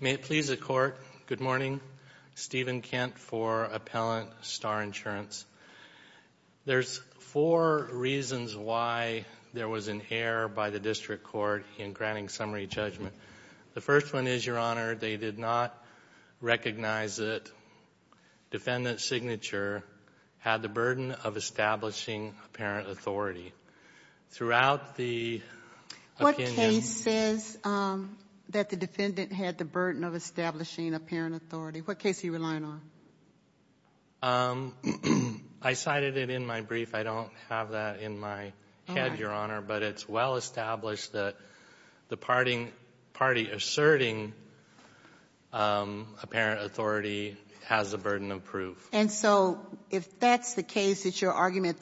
May it please the Court, good morning, Stephen Kent for Appellant Starr Insurance. There's four reasons why there was an error by the District Court in granting summary judgment. The first one is, Your Honor, they did not recognize that defendant's signature had the burden of establishing apparent authority. Throughout the opinion... What case says that the defendant had the burden of establishing apparent authority? What case are you relying on? I cited it in my brief. I don't have that in my head, Your Honor. But it's well established that the party asserting apparent authority has a burden of proof. And so if that's the case, it's your argument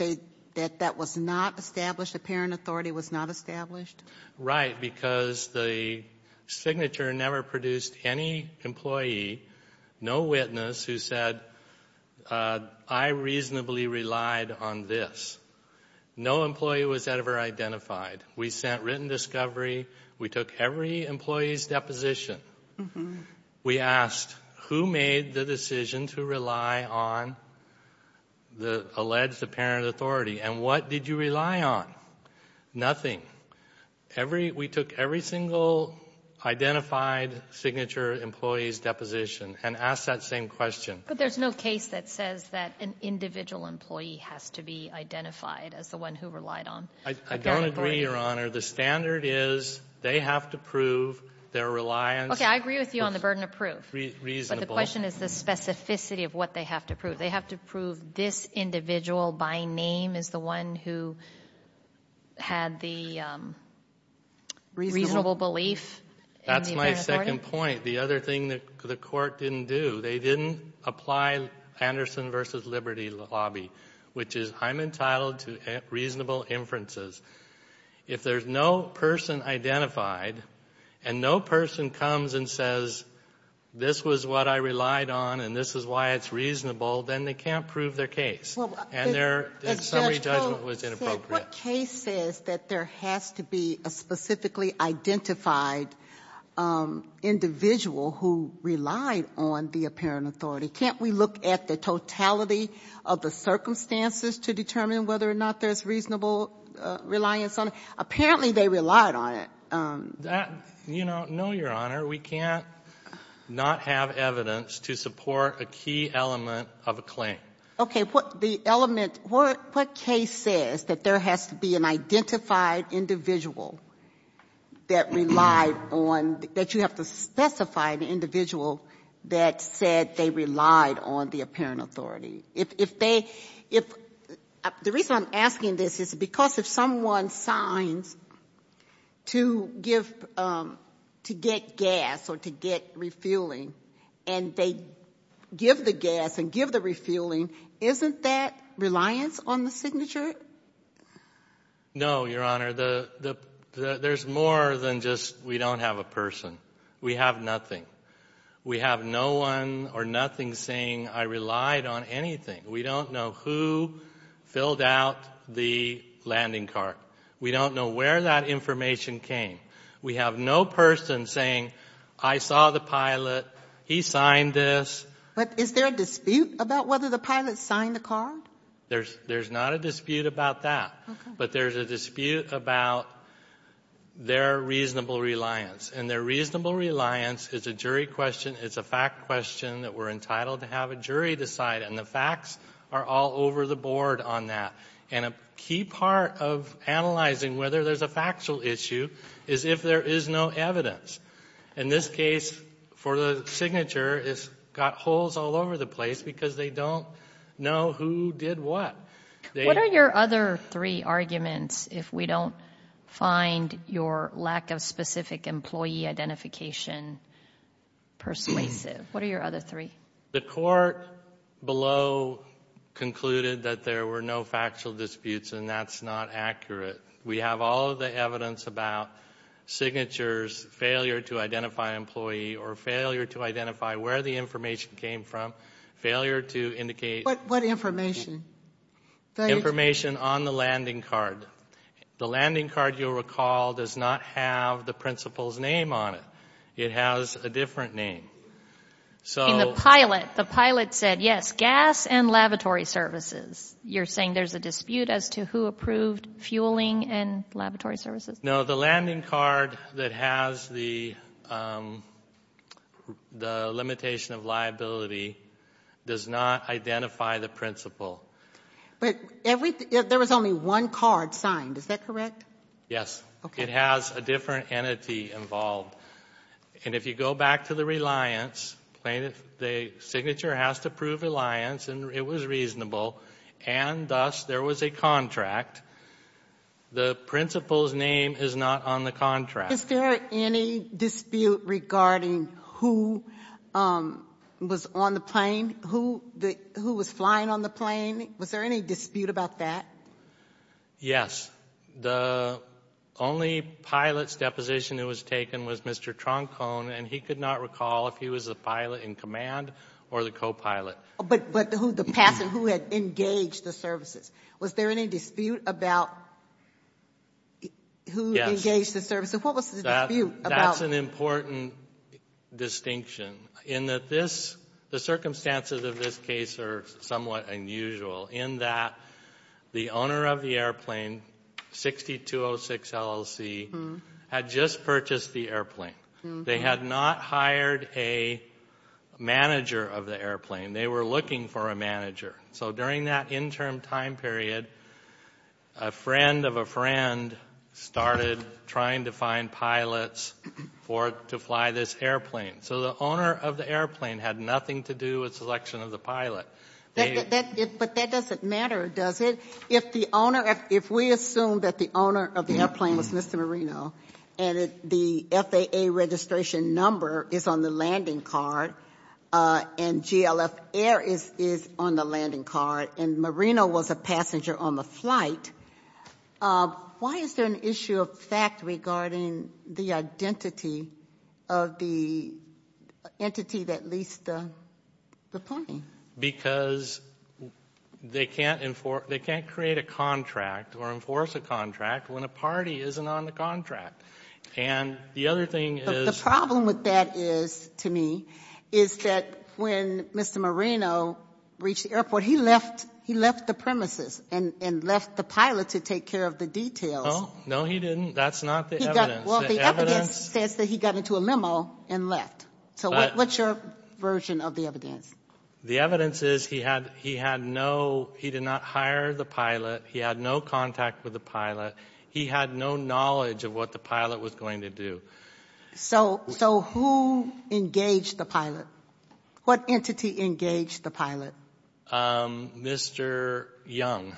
that that was not established, apparent authority was not established? Right, because the signature never produced any employee, no witness, who said, I reasonably relied on this. No employee was ever identified. We sent written discovery. We took every employee's deposition. We asked, who made the decision to rely on the alleged apparent authority? And what did you rely on? Nothing. We took every single identified signature employee's deposition and asked that same question. But there's no case that says that an individual employee has to be identified as the one who relied on apparent authority? I don't agree, Your Honor. The standard is they have to prove their reliance. Okay, I agree with you on the burden of proof. But the question is the specificity of what they have to prove. They have to prove this individual by name is the one who had the reasonable belief in the apparent authority? That's my second point. The other thing that the court didn't do, they didn't apply Anderson v. Liberty lobby, which is I'm entitled to reasonable inferences. If there's no person identified and no person comes and says this was what I relied on and this is why it's reasonable, then they can't prove their case. And their summary judgment was inappropriate. But what case says that there has to be a specifically identified individual who relied on the apparent authority? Can't we look at the totality of the circumstances to determine whether or not there's reasonable reliance on it? Apparently they relied on it. You know, no, Your Honor. We can't not have evidence to support a key element of a claim. Okay. And what the element, what case says that there has to be an identified individual that relied on, that you have to specify the individual that said they relied on the apparent authority? If they, if, the reason I'm asking this is because if someone signs to give, to get gas or to get refueling and they give the gas and give the refueling, isn't that reliance on the signature? No, Your Honor. There's more than just we don't have a person. We have nothing. We have no one or nothing saying I relied on anything. We don't know who filled out the landing cart. We don't know where that information came. We have no person saying I saw the pilot, he signed this. But is there a dispute about whether the pilot signed the card? There's not a dispute about that. Okay. But there's a dispute about their reasonable reliance. And their reasonable reliance is a jury question. It's a fact question that we're entitled to have a jury decide. And the facts are all over the board on that. And a key part of analyzing whether there's a factual issue is if there is no evidence. In this case, for the signature, it's got holes all over the place because they don't know who did what. What are your other three arguments if we don't find your lack of specific employee identification persuasive? What are your other three? The court below concluded that there were no factual disputes, and that's not accurate. We have all of the evidence about signatures, failure to identify an employee, or failure to identify where the information came from, failure to indicate. What information? Information on the landing card. The landing card, you'll recall, does not have the principal's name on it. It has a different name. The pilot said, yes, gas and lavatory services. You're saying there's a dispute as to who approved fueling and lavatory services? No, the landing card that has the limitation of liability does not identify the principal. But there was only one card signed. Is that correct? Yes. It has a different entity involved. And if you go back to the reliance, the signature has to prove reliance, and it was reasonable, and thus there was a contract. The principal's name is not on the contract. Is there any dispute regarding who was on the plane, who was flying on the plane? Was there any dispute about that? Yes. The only pilot's deposition that was taken was Mr. Troncone, and he could not recall if he was the pilot in command or the co-pilot. But who had engaged the services. Was there any dispute about who engaged the services? What was the dispute about? That's an important distinction, in that the circumstances of this case are somewhat unusual, in that the owner of the airplane, 6206 LLC, had just purchased the airplane. They had not hired a manager of the airplane. They were looking for a manager. So during that interim time period, a friend of a friend started trying to find pilots to fly this airplane. So the owner of the airplane had nothing to do with selection of the pilot. But that doesn't matter, does it? If we assume that the owner of the airplane was Mr. Marino, and the FAA registration number is on the landing card, and GLF air is on the landing card, and Marino was a passenger on the flight, why is there an issue of fact regarding the identity of the entity that leased the plane? Because they can't create a contract or enforce a contract when a party isn't on the contract. And the other thing is the problem with that is, to me, is that when Mr. Marino reached the airport, he left the premises and left the pilot to take care of the details. No, he didn't. That's not the evidence. Well, the evidence says that he got into a limo and left. So what's your version of the evidence? The evidence is he did not hire the pilot. He had no contact with the pilot. He had no knowledge of what the pilot was going to do. So who engaged the pilot? What entity engaged the pilot? Mr. Young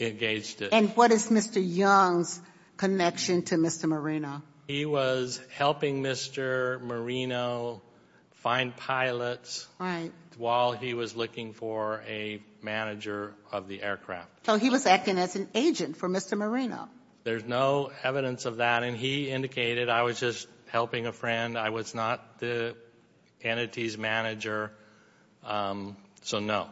engaged it. And what is Mr. Young's connection to Mr. Marino? He was helping Mr. Marino find pilots while he was looking for a manager of the aircraft. So he was acting as an agent for Mr. Marino. There's no evidence of that. And he indicated I was just helping a friend. I was not the entity's manager. So no.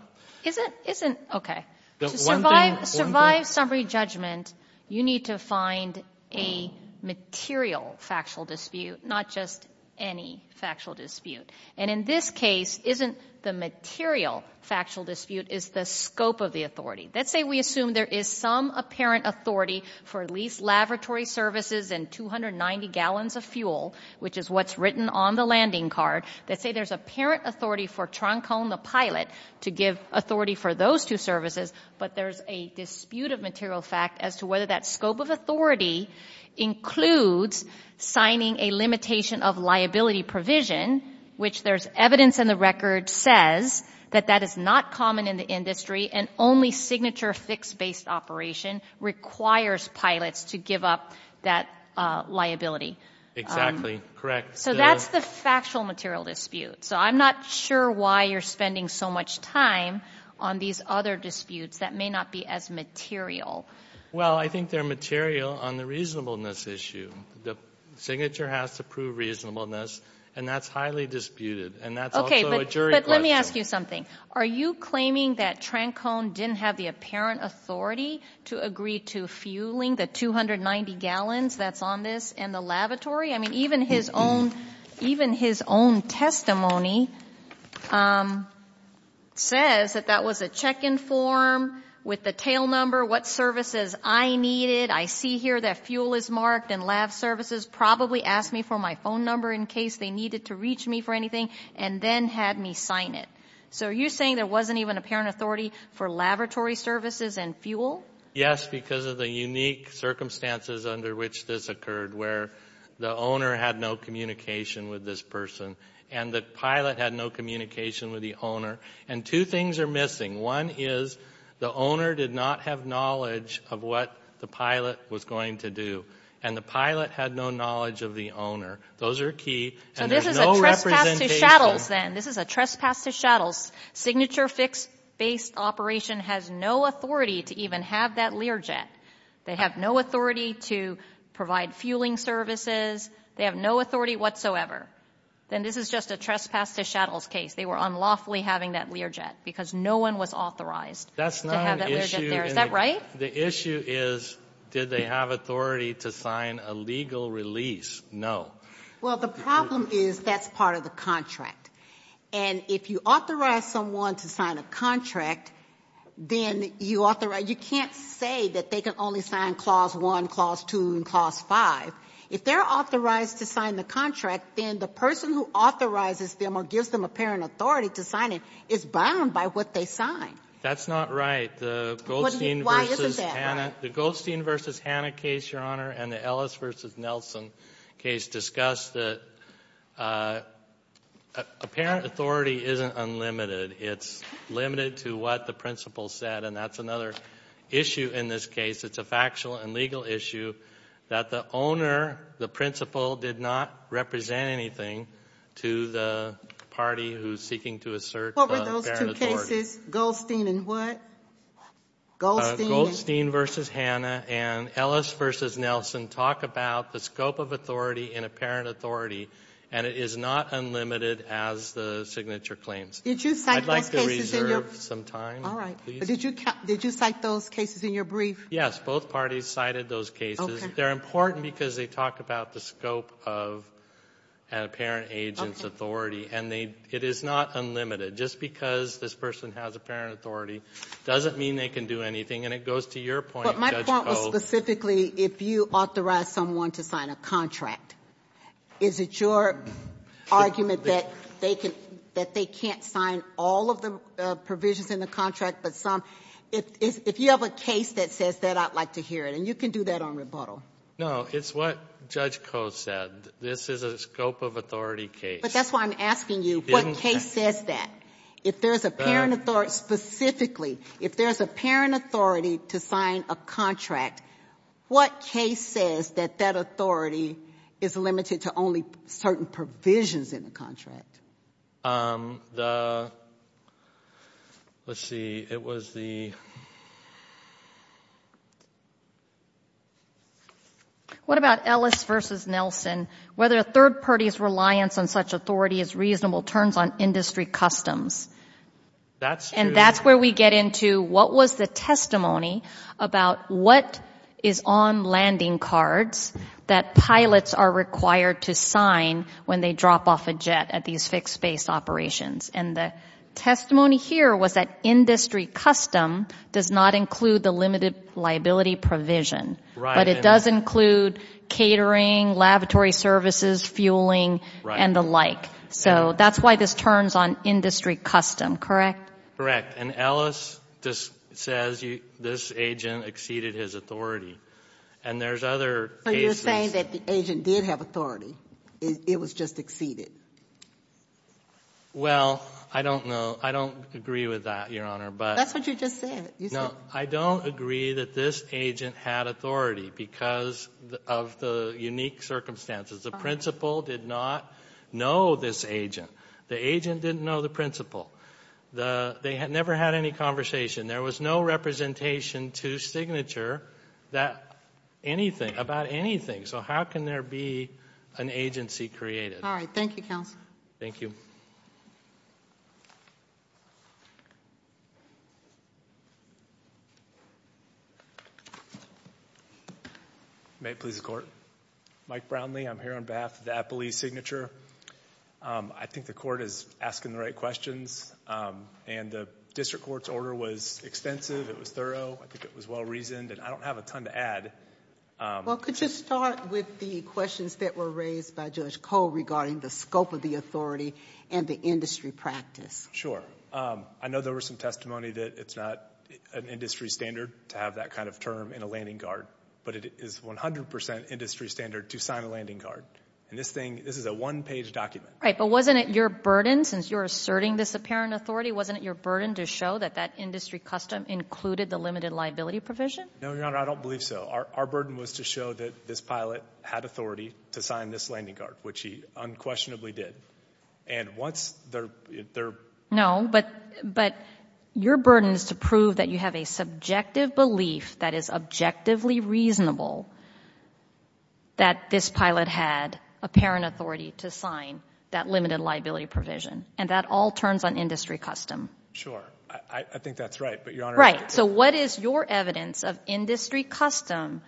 Okay. To survive summary judgment, you need to find a material factual dispute, not just any factual dispute. And in this case, isn't the material factual dispute is the scope of the authority? Let's say we assume there is some apparent authority for at least laboratory services and 290 gallons of fuel, which is what's written on the landing card. Let's say there's apparent authority for Troncone, the pilot, to give authority for those two services. But there's a dispute of material fact as to whether that scope of authority includes signing a limitation of liability provision, which there's evidence in the record says that that is not common in the industry and only signature fixed-based operation requires pilots to give up that liability. Exactly. Correct. So that's the factual material dispute. So I'm not sure why you're spending so much time on these other disputes that may not be as material. Well, I think they're material on the reasonableness issue. The signature has to prove reasonableness, and that's highly disputed, and that's also a jury question. Okay, but let me ask you something. Are you claiming that Troncone didn't have the apparent authority to agree to fueling the 290 gallons that's on this and the lavatory? I mean, even his own testimony says that that was a check-in form with the tail number, what services I needed. I see here that fuel is marked and lav services probably asked me for my phone number in case they needed to reach me for anything and then had me sign it. So are you saying there wasn't even apparent authority for lavatory services and fuel? Yes, because of the unique circumstances under which this occurred, where the owner had no communication with this person and the pilot had no communication with the owner. And two things are missing. One is the owner did not have knowledge of what the pilot was going to do, and the pilot had no knowledge of the owner. Those are key, and there's no representation. So this is a trespass to Shattles, then. This is a trespass to Shattles. Signature fix-based operation has no authority to even have that Learjet. They have no authority to provide fueling services. They have no authority whatsoever. Then this is just a trespass to Shattles case. They were unlawfully having that Learjet because no one was authorized to have that Learjet there. Is that right? The issue is did they have authority to sign a legal release? Well, the problem is that's part of the contract. And if you authorize someone to sign a contract, then you can't say that they can only sign Clause 1, Clause 2, and Clause 5. If they're authorized to sign the contract, then the person who authorizes them or gives them apparent authority to sign it is bound by what they sign. That's not right. The Goldstein v. Hanna case, Your Honor, and the Ellis v. Nelson case discuss that apparent authority isn't unlimited. It's limited to what the principle said, and that's another issue in this case. It's a factual and legal issue that the owner, the principle, did not represent anything to the party who's seeking to assert apparent authority. What were those two cases, Goldstein and what? Goldstein v. Hanna and Ellis v. Nelson talk about the scope of authority in apparent authority, and it is not unlimited as the signature claims. I'd like to reserve some time. All right. Did you cite those cases in your brief? Yes, both parties cited those cases. They're important because they talk about the scope of apparent agent's authority, and it is not unlimited. Just because this person has apparent authority doesn't mean they can do anything, and it goes to your point, Judge Koh. But my point was specifically if you authorize someone to sign a contract, is it your argument that they can't sign all of the provisions in the contract but some? If you have a case that says that, I'd like to hear it, and you can do that on rebuttal. No, it's what Judge Koh said. This is a scope of authority case. But that's why I'm asking you what case says that. If there's apparent authority, specifically, if there's apparent authority to sign a contract, what case says that that authority is limited to only certain provisions in the contract? Let's see. It was the... What about Ellis v. Nelson? Whether a third party's reliance on such authority is reasonable turns on industry customs. That's true. And the testimony here was that industry custom does not include the limited liability provision. Right. But it does include catering, laboratory services, fueling, and the like. So that's why this turns on industry custom, correct? Correct. And Ellis just says this agent exceeded his authority. And there's other cases... You're saying that the agent did have authority. It was just exceeded. Well, I don't know. I don't agree with that, Your Honor, but... That's what you just said. No, I don't agree that this agent had authority because of the unique circumstances. The principal did not know this agent. The agent didn't know the principal. They never had any conversation. There was no representation to Signature about anything. So how can there be an agency created? All right. Thank you, counsel. Thank you. May it please the Court? Mike Brownlee. I'm here on behalf of the Appalachian Signature. I think the Court is asking the right questions. And the district court's order was extensive. It was thorough. I think it was well-reasoned. And I don't have a ton to add. Well, could you start with the questions that were raised by Judge Koh regarding the scope of the authority and the industry practice? Sure. I know there was some testimony that it's not an industry standard to have that kind of term in a landing guard. But it is 100% industry standard to sign a landing guard. And this is a one-page document. Right. But wasn't it your burden, since you're asserting this apparent authority, wasn't it your burden to show that that industry custom included the limited liability provision? No, Your Honor, I don't believe so. Our burden was to show that this pilot had authority to sign this landing guard, which he unquestionably did. And once they're – No, but your burden is to prove that you have a subjective belief that is objectively reasonable that this pilot had apparent authority to sign that limited liability provision. And that all turns on industry custom. Sure. I think that's right, but Your Honor – Right. So what is your evidence of industry custom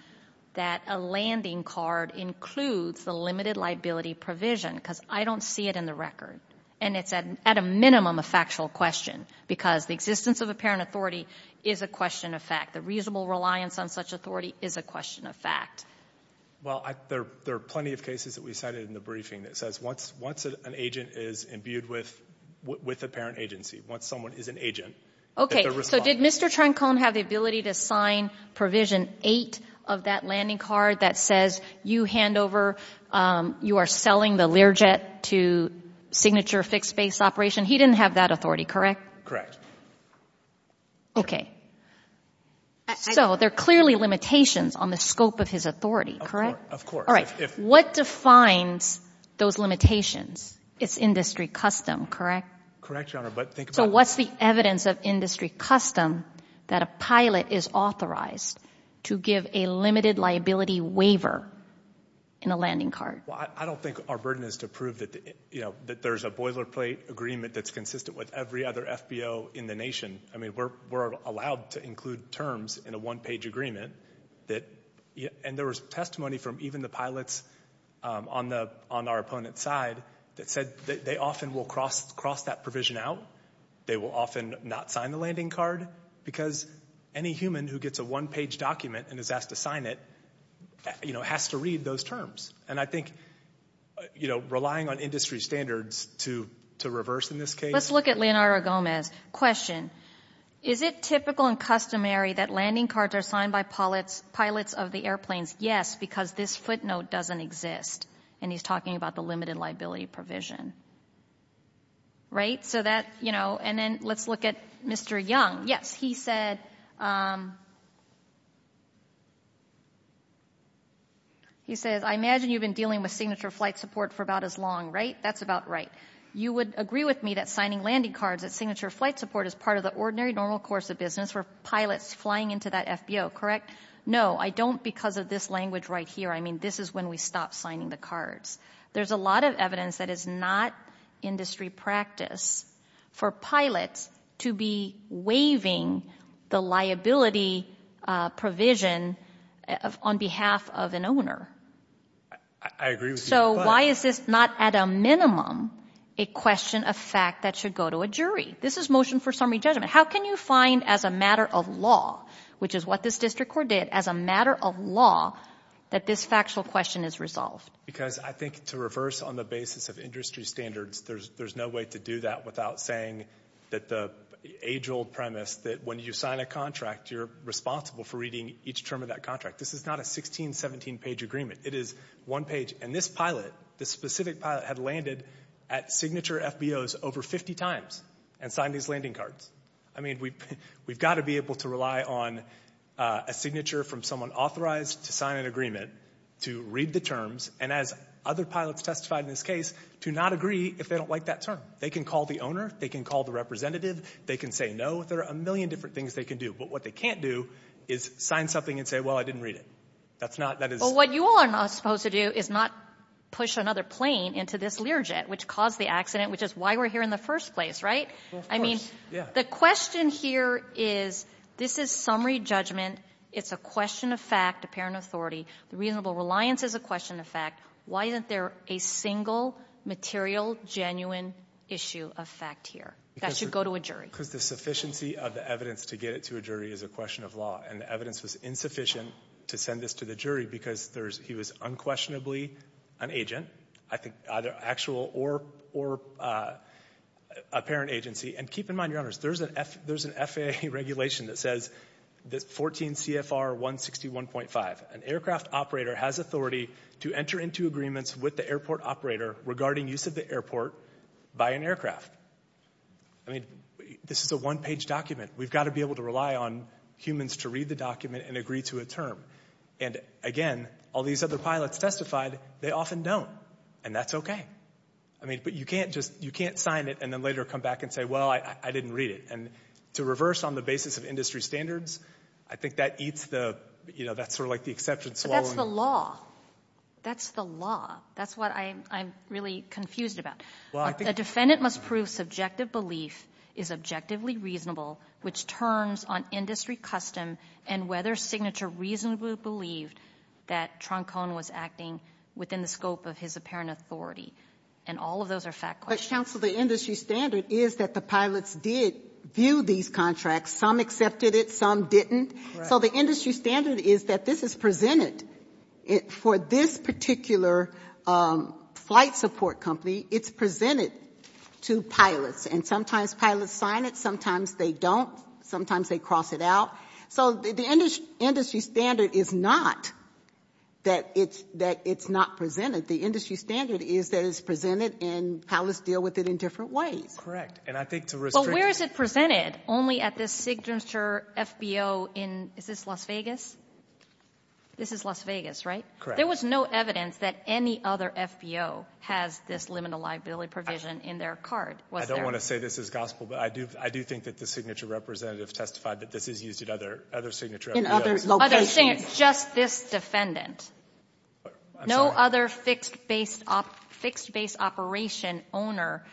that a landing guard includes the limited liability provision? Because I don't see it in the record. And it's at a minimum a factual question because the existence of apparent authority is a question of fact. The reasonable reliance on such authority is a question of fact. Well, there are plenty of cases that we cited in the briefing that says once an agent is imbued with apparent agency, once someone is an agent, that they're responsible. Okay. So did Mr. Trancone have the ability to sign provision 8 of that landing guard that says you hand over – you are selling the Learjet to signature fixed-base operation? He didn't have that authority, correct? Correct. Okay. So there are clearly limitations on the scope of his authority, correct? Of course. What defines those limitations? It's industry custom, correct? Correct, Your Honor, but think about – So what's the evidence of industry custom that a pilot is authorized to give a limited liability waiver in a landing guard? I don't think our burden is to prove that there's a boilerplate agreement that's consistent with every other FBO in the nation. I mean, we're allowed to include terms in a one-page agreement. And there was testimony from even the pilots on our opponent's side that said they often will cross that provision out. They will often not sign the landing guard because any human who gets a one-page document and is asked to sign it has to read those terms. And I think, you know, relying on industry standards to reverse in this case. Let's look at Leonardo Gomez. Is it typical and customary that landing guards are signed by pilots of the airplanes? Yes, because this footnote doesn't exist. And he's talking about the limited liability provision. Right? So that, you know, and then let's look at Mr. Young. Yes. He said... He says, I imagine you've been dealing with signature flight support for about as long, right? That's about right. You would agree with me that signing landing cards at signature flight support is part of the ordinary, normal course of business for pilots flying into that FBO, correct? No, I don't because of this language right here. I mean, this is when we stop signing the cards. There's a lot of evidence that is not industry practice for pilots to be waiving the liability provision on behalf of an owner. I agree with you. So why is this not at a minimum a question of fact that should go to a jury? This is motion for summary judgment. How can you find as a matter of law, which is what this district court did, as a matter of law that this factual question is resolved? Because I think to reverse on the basis of industry standards, there's no way to do that without saying that the age-old premise that when you sign a contract, you're responsible for reading each term of that contract. This is not a 16-, 17-page agreement. It is one page, and this pilot, this specific pilot, had landed at signature FBOs over 50 times and signed these landing cards. I mean, we've got to be able to rely on a signature from someone authorized to sign an agreement, to read the terms, and as other pilots testified in this case, to not agree if they don't like that term. They can call the owner. They can call the representative. They can say no. There are a million different things they can do, but what they can't do is sign something and say, well, I didn't read it. That's not, that is. Well, what you all are not supposed to do is not push another plane into this Learjet, which caused the accident, which is why we're here in the first place, right? Well, of course, yeah. I mean, the question here is this is summary judgment. It's a question of fact, apparent authority. The reasonable reliance is a question of fact. Why isn't there a single material, genuine issue of fact here? That should go to a jury. Because the sufficiency of the evidence to get it to a jury is a question of law, and the evidence was insufficient to send this to the jury because he was unquestionably an agent, either actual or apparent agency. And keep in mind, Your Honors, there's an FAA regulation that says 14 CFR 161.5, an aircraft operator has authority to enter into agreements with the airport operator regarding use of the airport by an aircraft. I mean, this is a one-page document. We've got to be able to rely on humans to read the document and agree to a term. And, again, all these other pilots testified they often don't, and that's okay. I mean, but you can't just, you can't sign it and then later come back and say, well, I didn't read it. And to reverse on the basis of industry standards, I think that eats the, you know, that's sort of like the exception swallowing. That's the law. That's what I'm really confused about. A defendant must prove subjective belief is objectively reasonable, which turns on industry custom and whether Signature reasonably believed that Troncone was acting within the scope of his apparent authority. And all of those are fact questions. But, counsel, the industry standard is that the pilots did view these contracts. Some accepted it. Some didn't. So the industry standard is that this is presented. For this particular flight support company, it's presented to pilots. And sometimes pilots sign it. Sometimes they don't. Sometimes they cross it out. So the industry standard is not that it's not presented. The industry standard is that it's presented and pilots deal with it in different ways. Correct. But where is it presented? Only at this Signature FBO in, is this Las Vegas? This is Las Vegas, right? Correct. There was no evidence that any other FBO has this limited liability provision in their card. I don't want to say this is gospel, but I do think that the Signature representative testified that this is used at other Signature FBOs. In other locations. Just this defendant. I'm sorry. No other fixed base operation owner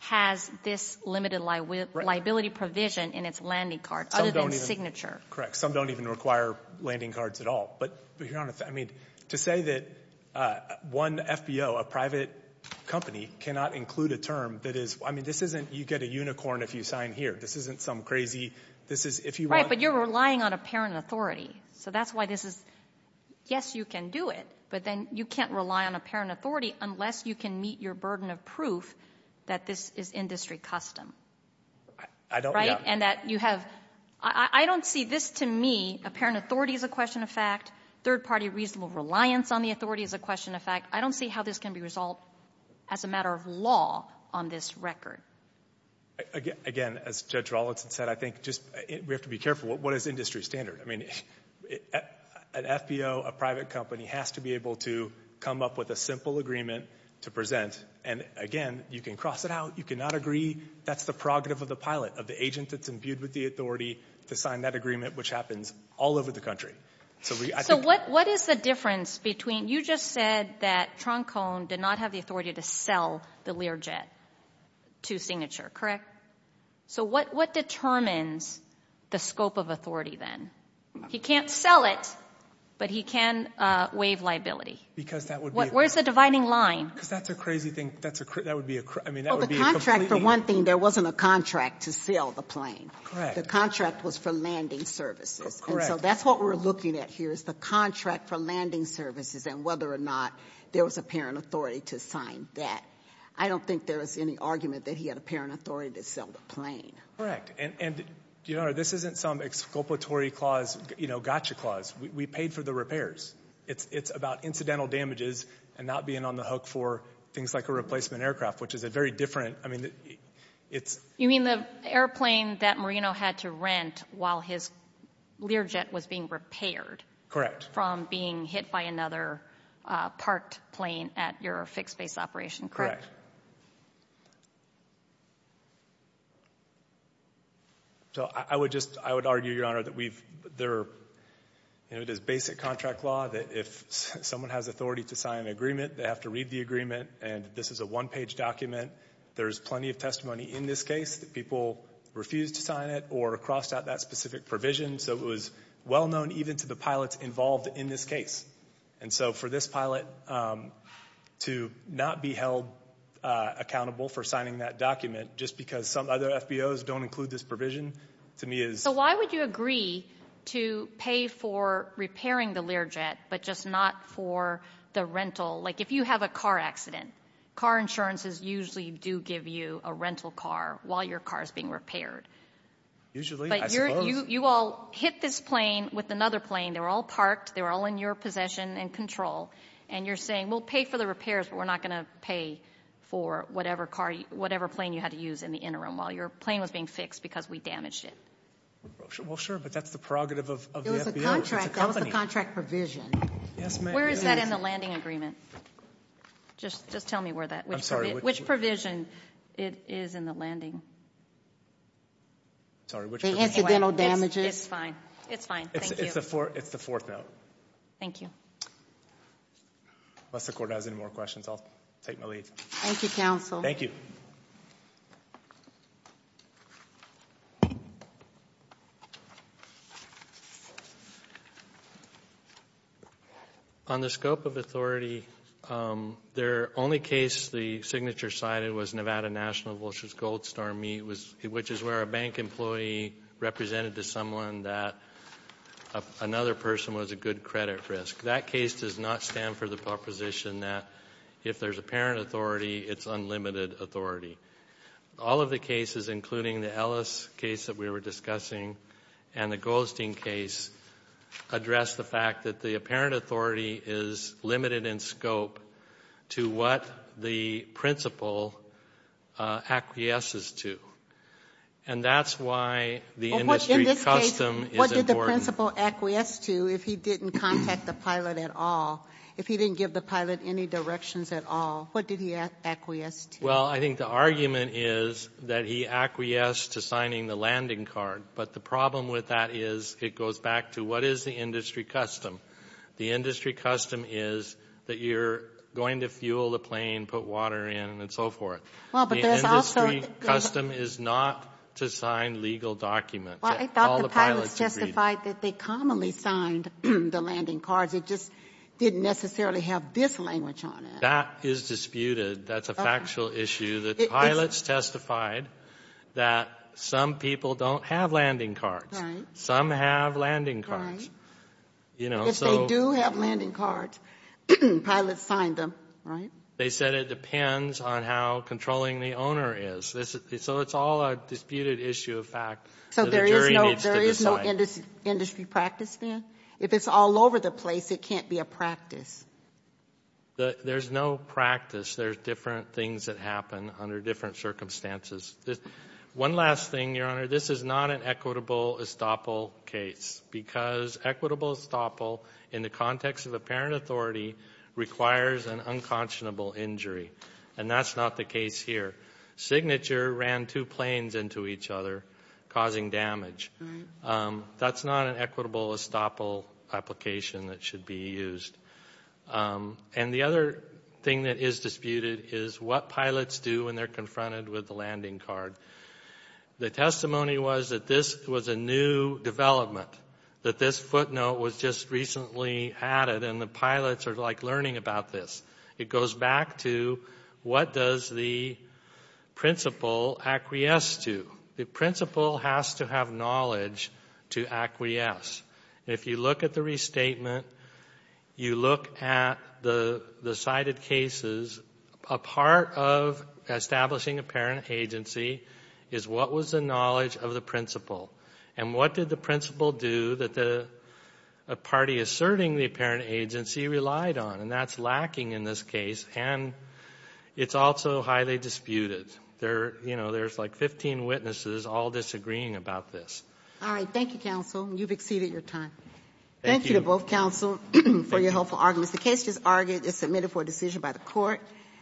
has this limited liability provision in its landing card other than Signature. Correct. Some don't even require landing cards at all. But to say that one FBO, a private company, cannot include a term that is, I mean, this isn't you get a unicorn if you sign here. This isn't some crazy, this is if you want. Right, but you're relying on a parent authority. So that's why this is, yes, you can do it. But then you can't rely on a parent authority unless you can meet your burden of proof that this is industry custom. I don't, yeah. Right? And that you have, I don't see this to me, a parent authority is a question of fact. Third party reasonable reliance on the authority is a question of fact. I don't see how this can be resolved as a matter of law on this record. Again, as Judge Rollinson said, I think just, we have to be careful. What is industry standard? I mean, an FBO, a private company, has to be able to come up with a simple agreement to present. And, again, you can cross it out. You cannot agree. That's the prerogative of the pilot, of the agent that's imbued with the authority to sign that agreement, which happens all over the country. So we, I think. So what is the difference between, you just said that Troncone did not have the authority to sell the Learjet to Signature, correct? So what determines the scope of authority then? He can't sell it, but he can waive liability. Because that would be. Where's the dividing line? Because that's a crazy thing. That would be a, I mean, that would be a completely. Well, the contract, for one thing, there wasn't a contract to sell the plane. Correct. The contract was for landing services. And so that's what we're looking at here is the contract for landing services and whether or not there was a parent authority to sign that. I don't think there was any argument that he had a parent authority to sell the plane. And, Your Honor, this isn't some exculpatory clause, you know, gotcha clause. We paid for the repairs. It's about incidental damages and not being on the hook for things like a replacement aircraft, which is a very different. I mean, it's. You mean the airplane that Marino had to rent while his Learjet was being repaired. Correct. From being hit by another parked plane at your fixed base operation. Correct. So I would just, I would argue, Your Honor, that we've there, you know, it is basic contract law that if someone has authority to sign an agreement, they have to read the agreement. And this is a one page document. There's plenty of testimony in this case that people refused to sign it or crossed out that specific provision. So it was well known even to the pilots involved in this case. And so for this pilot to not be held accountable for signing that document just because some other FBOs don't include this provision to me is. So why would you agree to pay for repairing the Learjet, but just not for the rental? Like if you have a car accident, car insurances usually do give you a rental car while your car is being repaired. Usually you all hit this plane with another plane. They were all parked. They were all in your possession and control. And you're saying we'll pay for the repairs, but we're not going to pay for whatever plane you had to use in the interim while your plane was being fixed because we damaged it. Well, sure. But that's the prerogative of the FBO. It was a contract. That was the contract provision. Yes, ma'am. Where is that in the landing agreement? Just tell me where that. I'm sorry. Which provision it is in the landing? Sorry, which provision? The incidental damages. It's fine. It's fine. It's the fourth note. Thank you. Unless the court has any more questions, I'll take my leave. Thank you, counsel. Thank you. On the scope of authority, their only case the signature cited was Nevada National Vultures Gold Storm, which is where a bank employee represented to someone that another person was a good credit risk. That case does not stand for the proposition that if there's apparent authority, it's unlimited authority. All of the cases, including the Ellis case that we were discussing and the Goldstein case, address the fact that the apparent authority is limited in scope to what the principal acquiesces to. And that's why the industry custom is important. In this case, what did the principal acquiesce to if he didn't contact the pilot at all, if he didn't give the pilot any directions at all? What did he acquiesce to? Well, I think the argument is that he acquiesced to signing the landing card, but the problem with that is it goes back to what is the industry custom? The industry custom is that you're going to fuel the plane, put water in, and so forth. The industry custom is not to sign legal documents. I thought the pilots testified that they commonly signed the landing cards. It just didn't necessarily have this language on it. That is disputed. That's a factual issue. The pilots testified that some people don't have landing cards. Some have landing cards. If they do have landing cards, pilots signed them, right? They said it depends on how controlling the owner is. So it's all a disputed issue of fact. So there is no industry practice then? If it's all over the place, it can't be a practice. There's no practice. There's different things that happen under different circumstances. One last thing, Your Honor. This is not an equitable estoppel case because equitable estoppel in the context of apparent authority requires an unconscionable injury, and that's not the case here. Signature ran two planes into each other, causing damage. That's not an equitable estoppel application that should be used. And the other thing that is disputed is what pilots do when they're confronted with the landing card. The testimony was that this was a new development, that this footnote was just recently added, and the pilots are, like, learning about this. It goes back to what does the principal acquiesce to? The principal has to have knowledge to acquiesce. If you look at the restatement, you look at the cited cases, a part of establishing apparent agency is what was the knowledge of the principal, and what did the principal do that a party asserting the apparent agency relied on? And that's lacking in this case, and it's also highly disputed. There's, like, 15 witnesses all disagreeing about this. All right. Thank you, counsel. You've exceeded your time. Thank you. Thank you to both counsel for your helpful arguments. The case just argued and submitted for a decision by the court.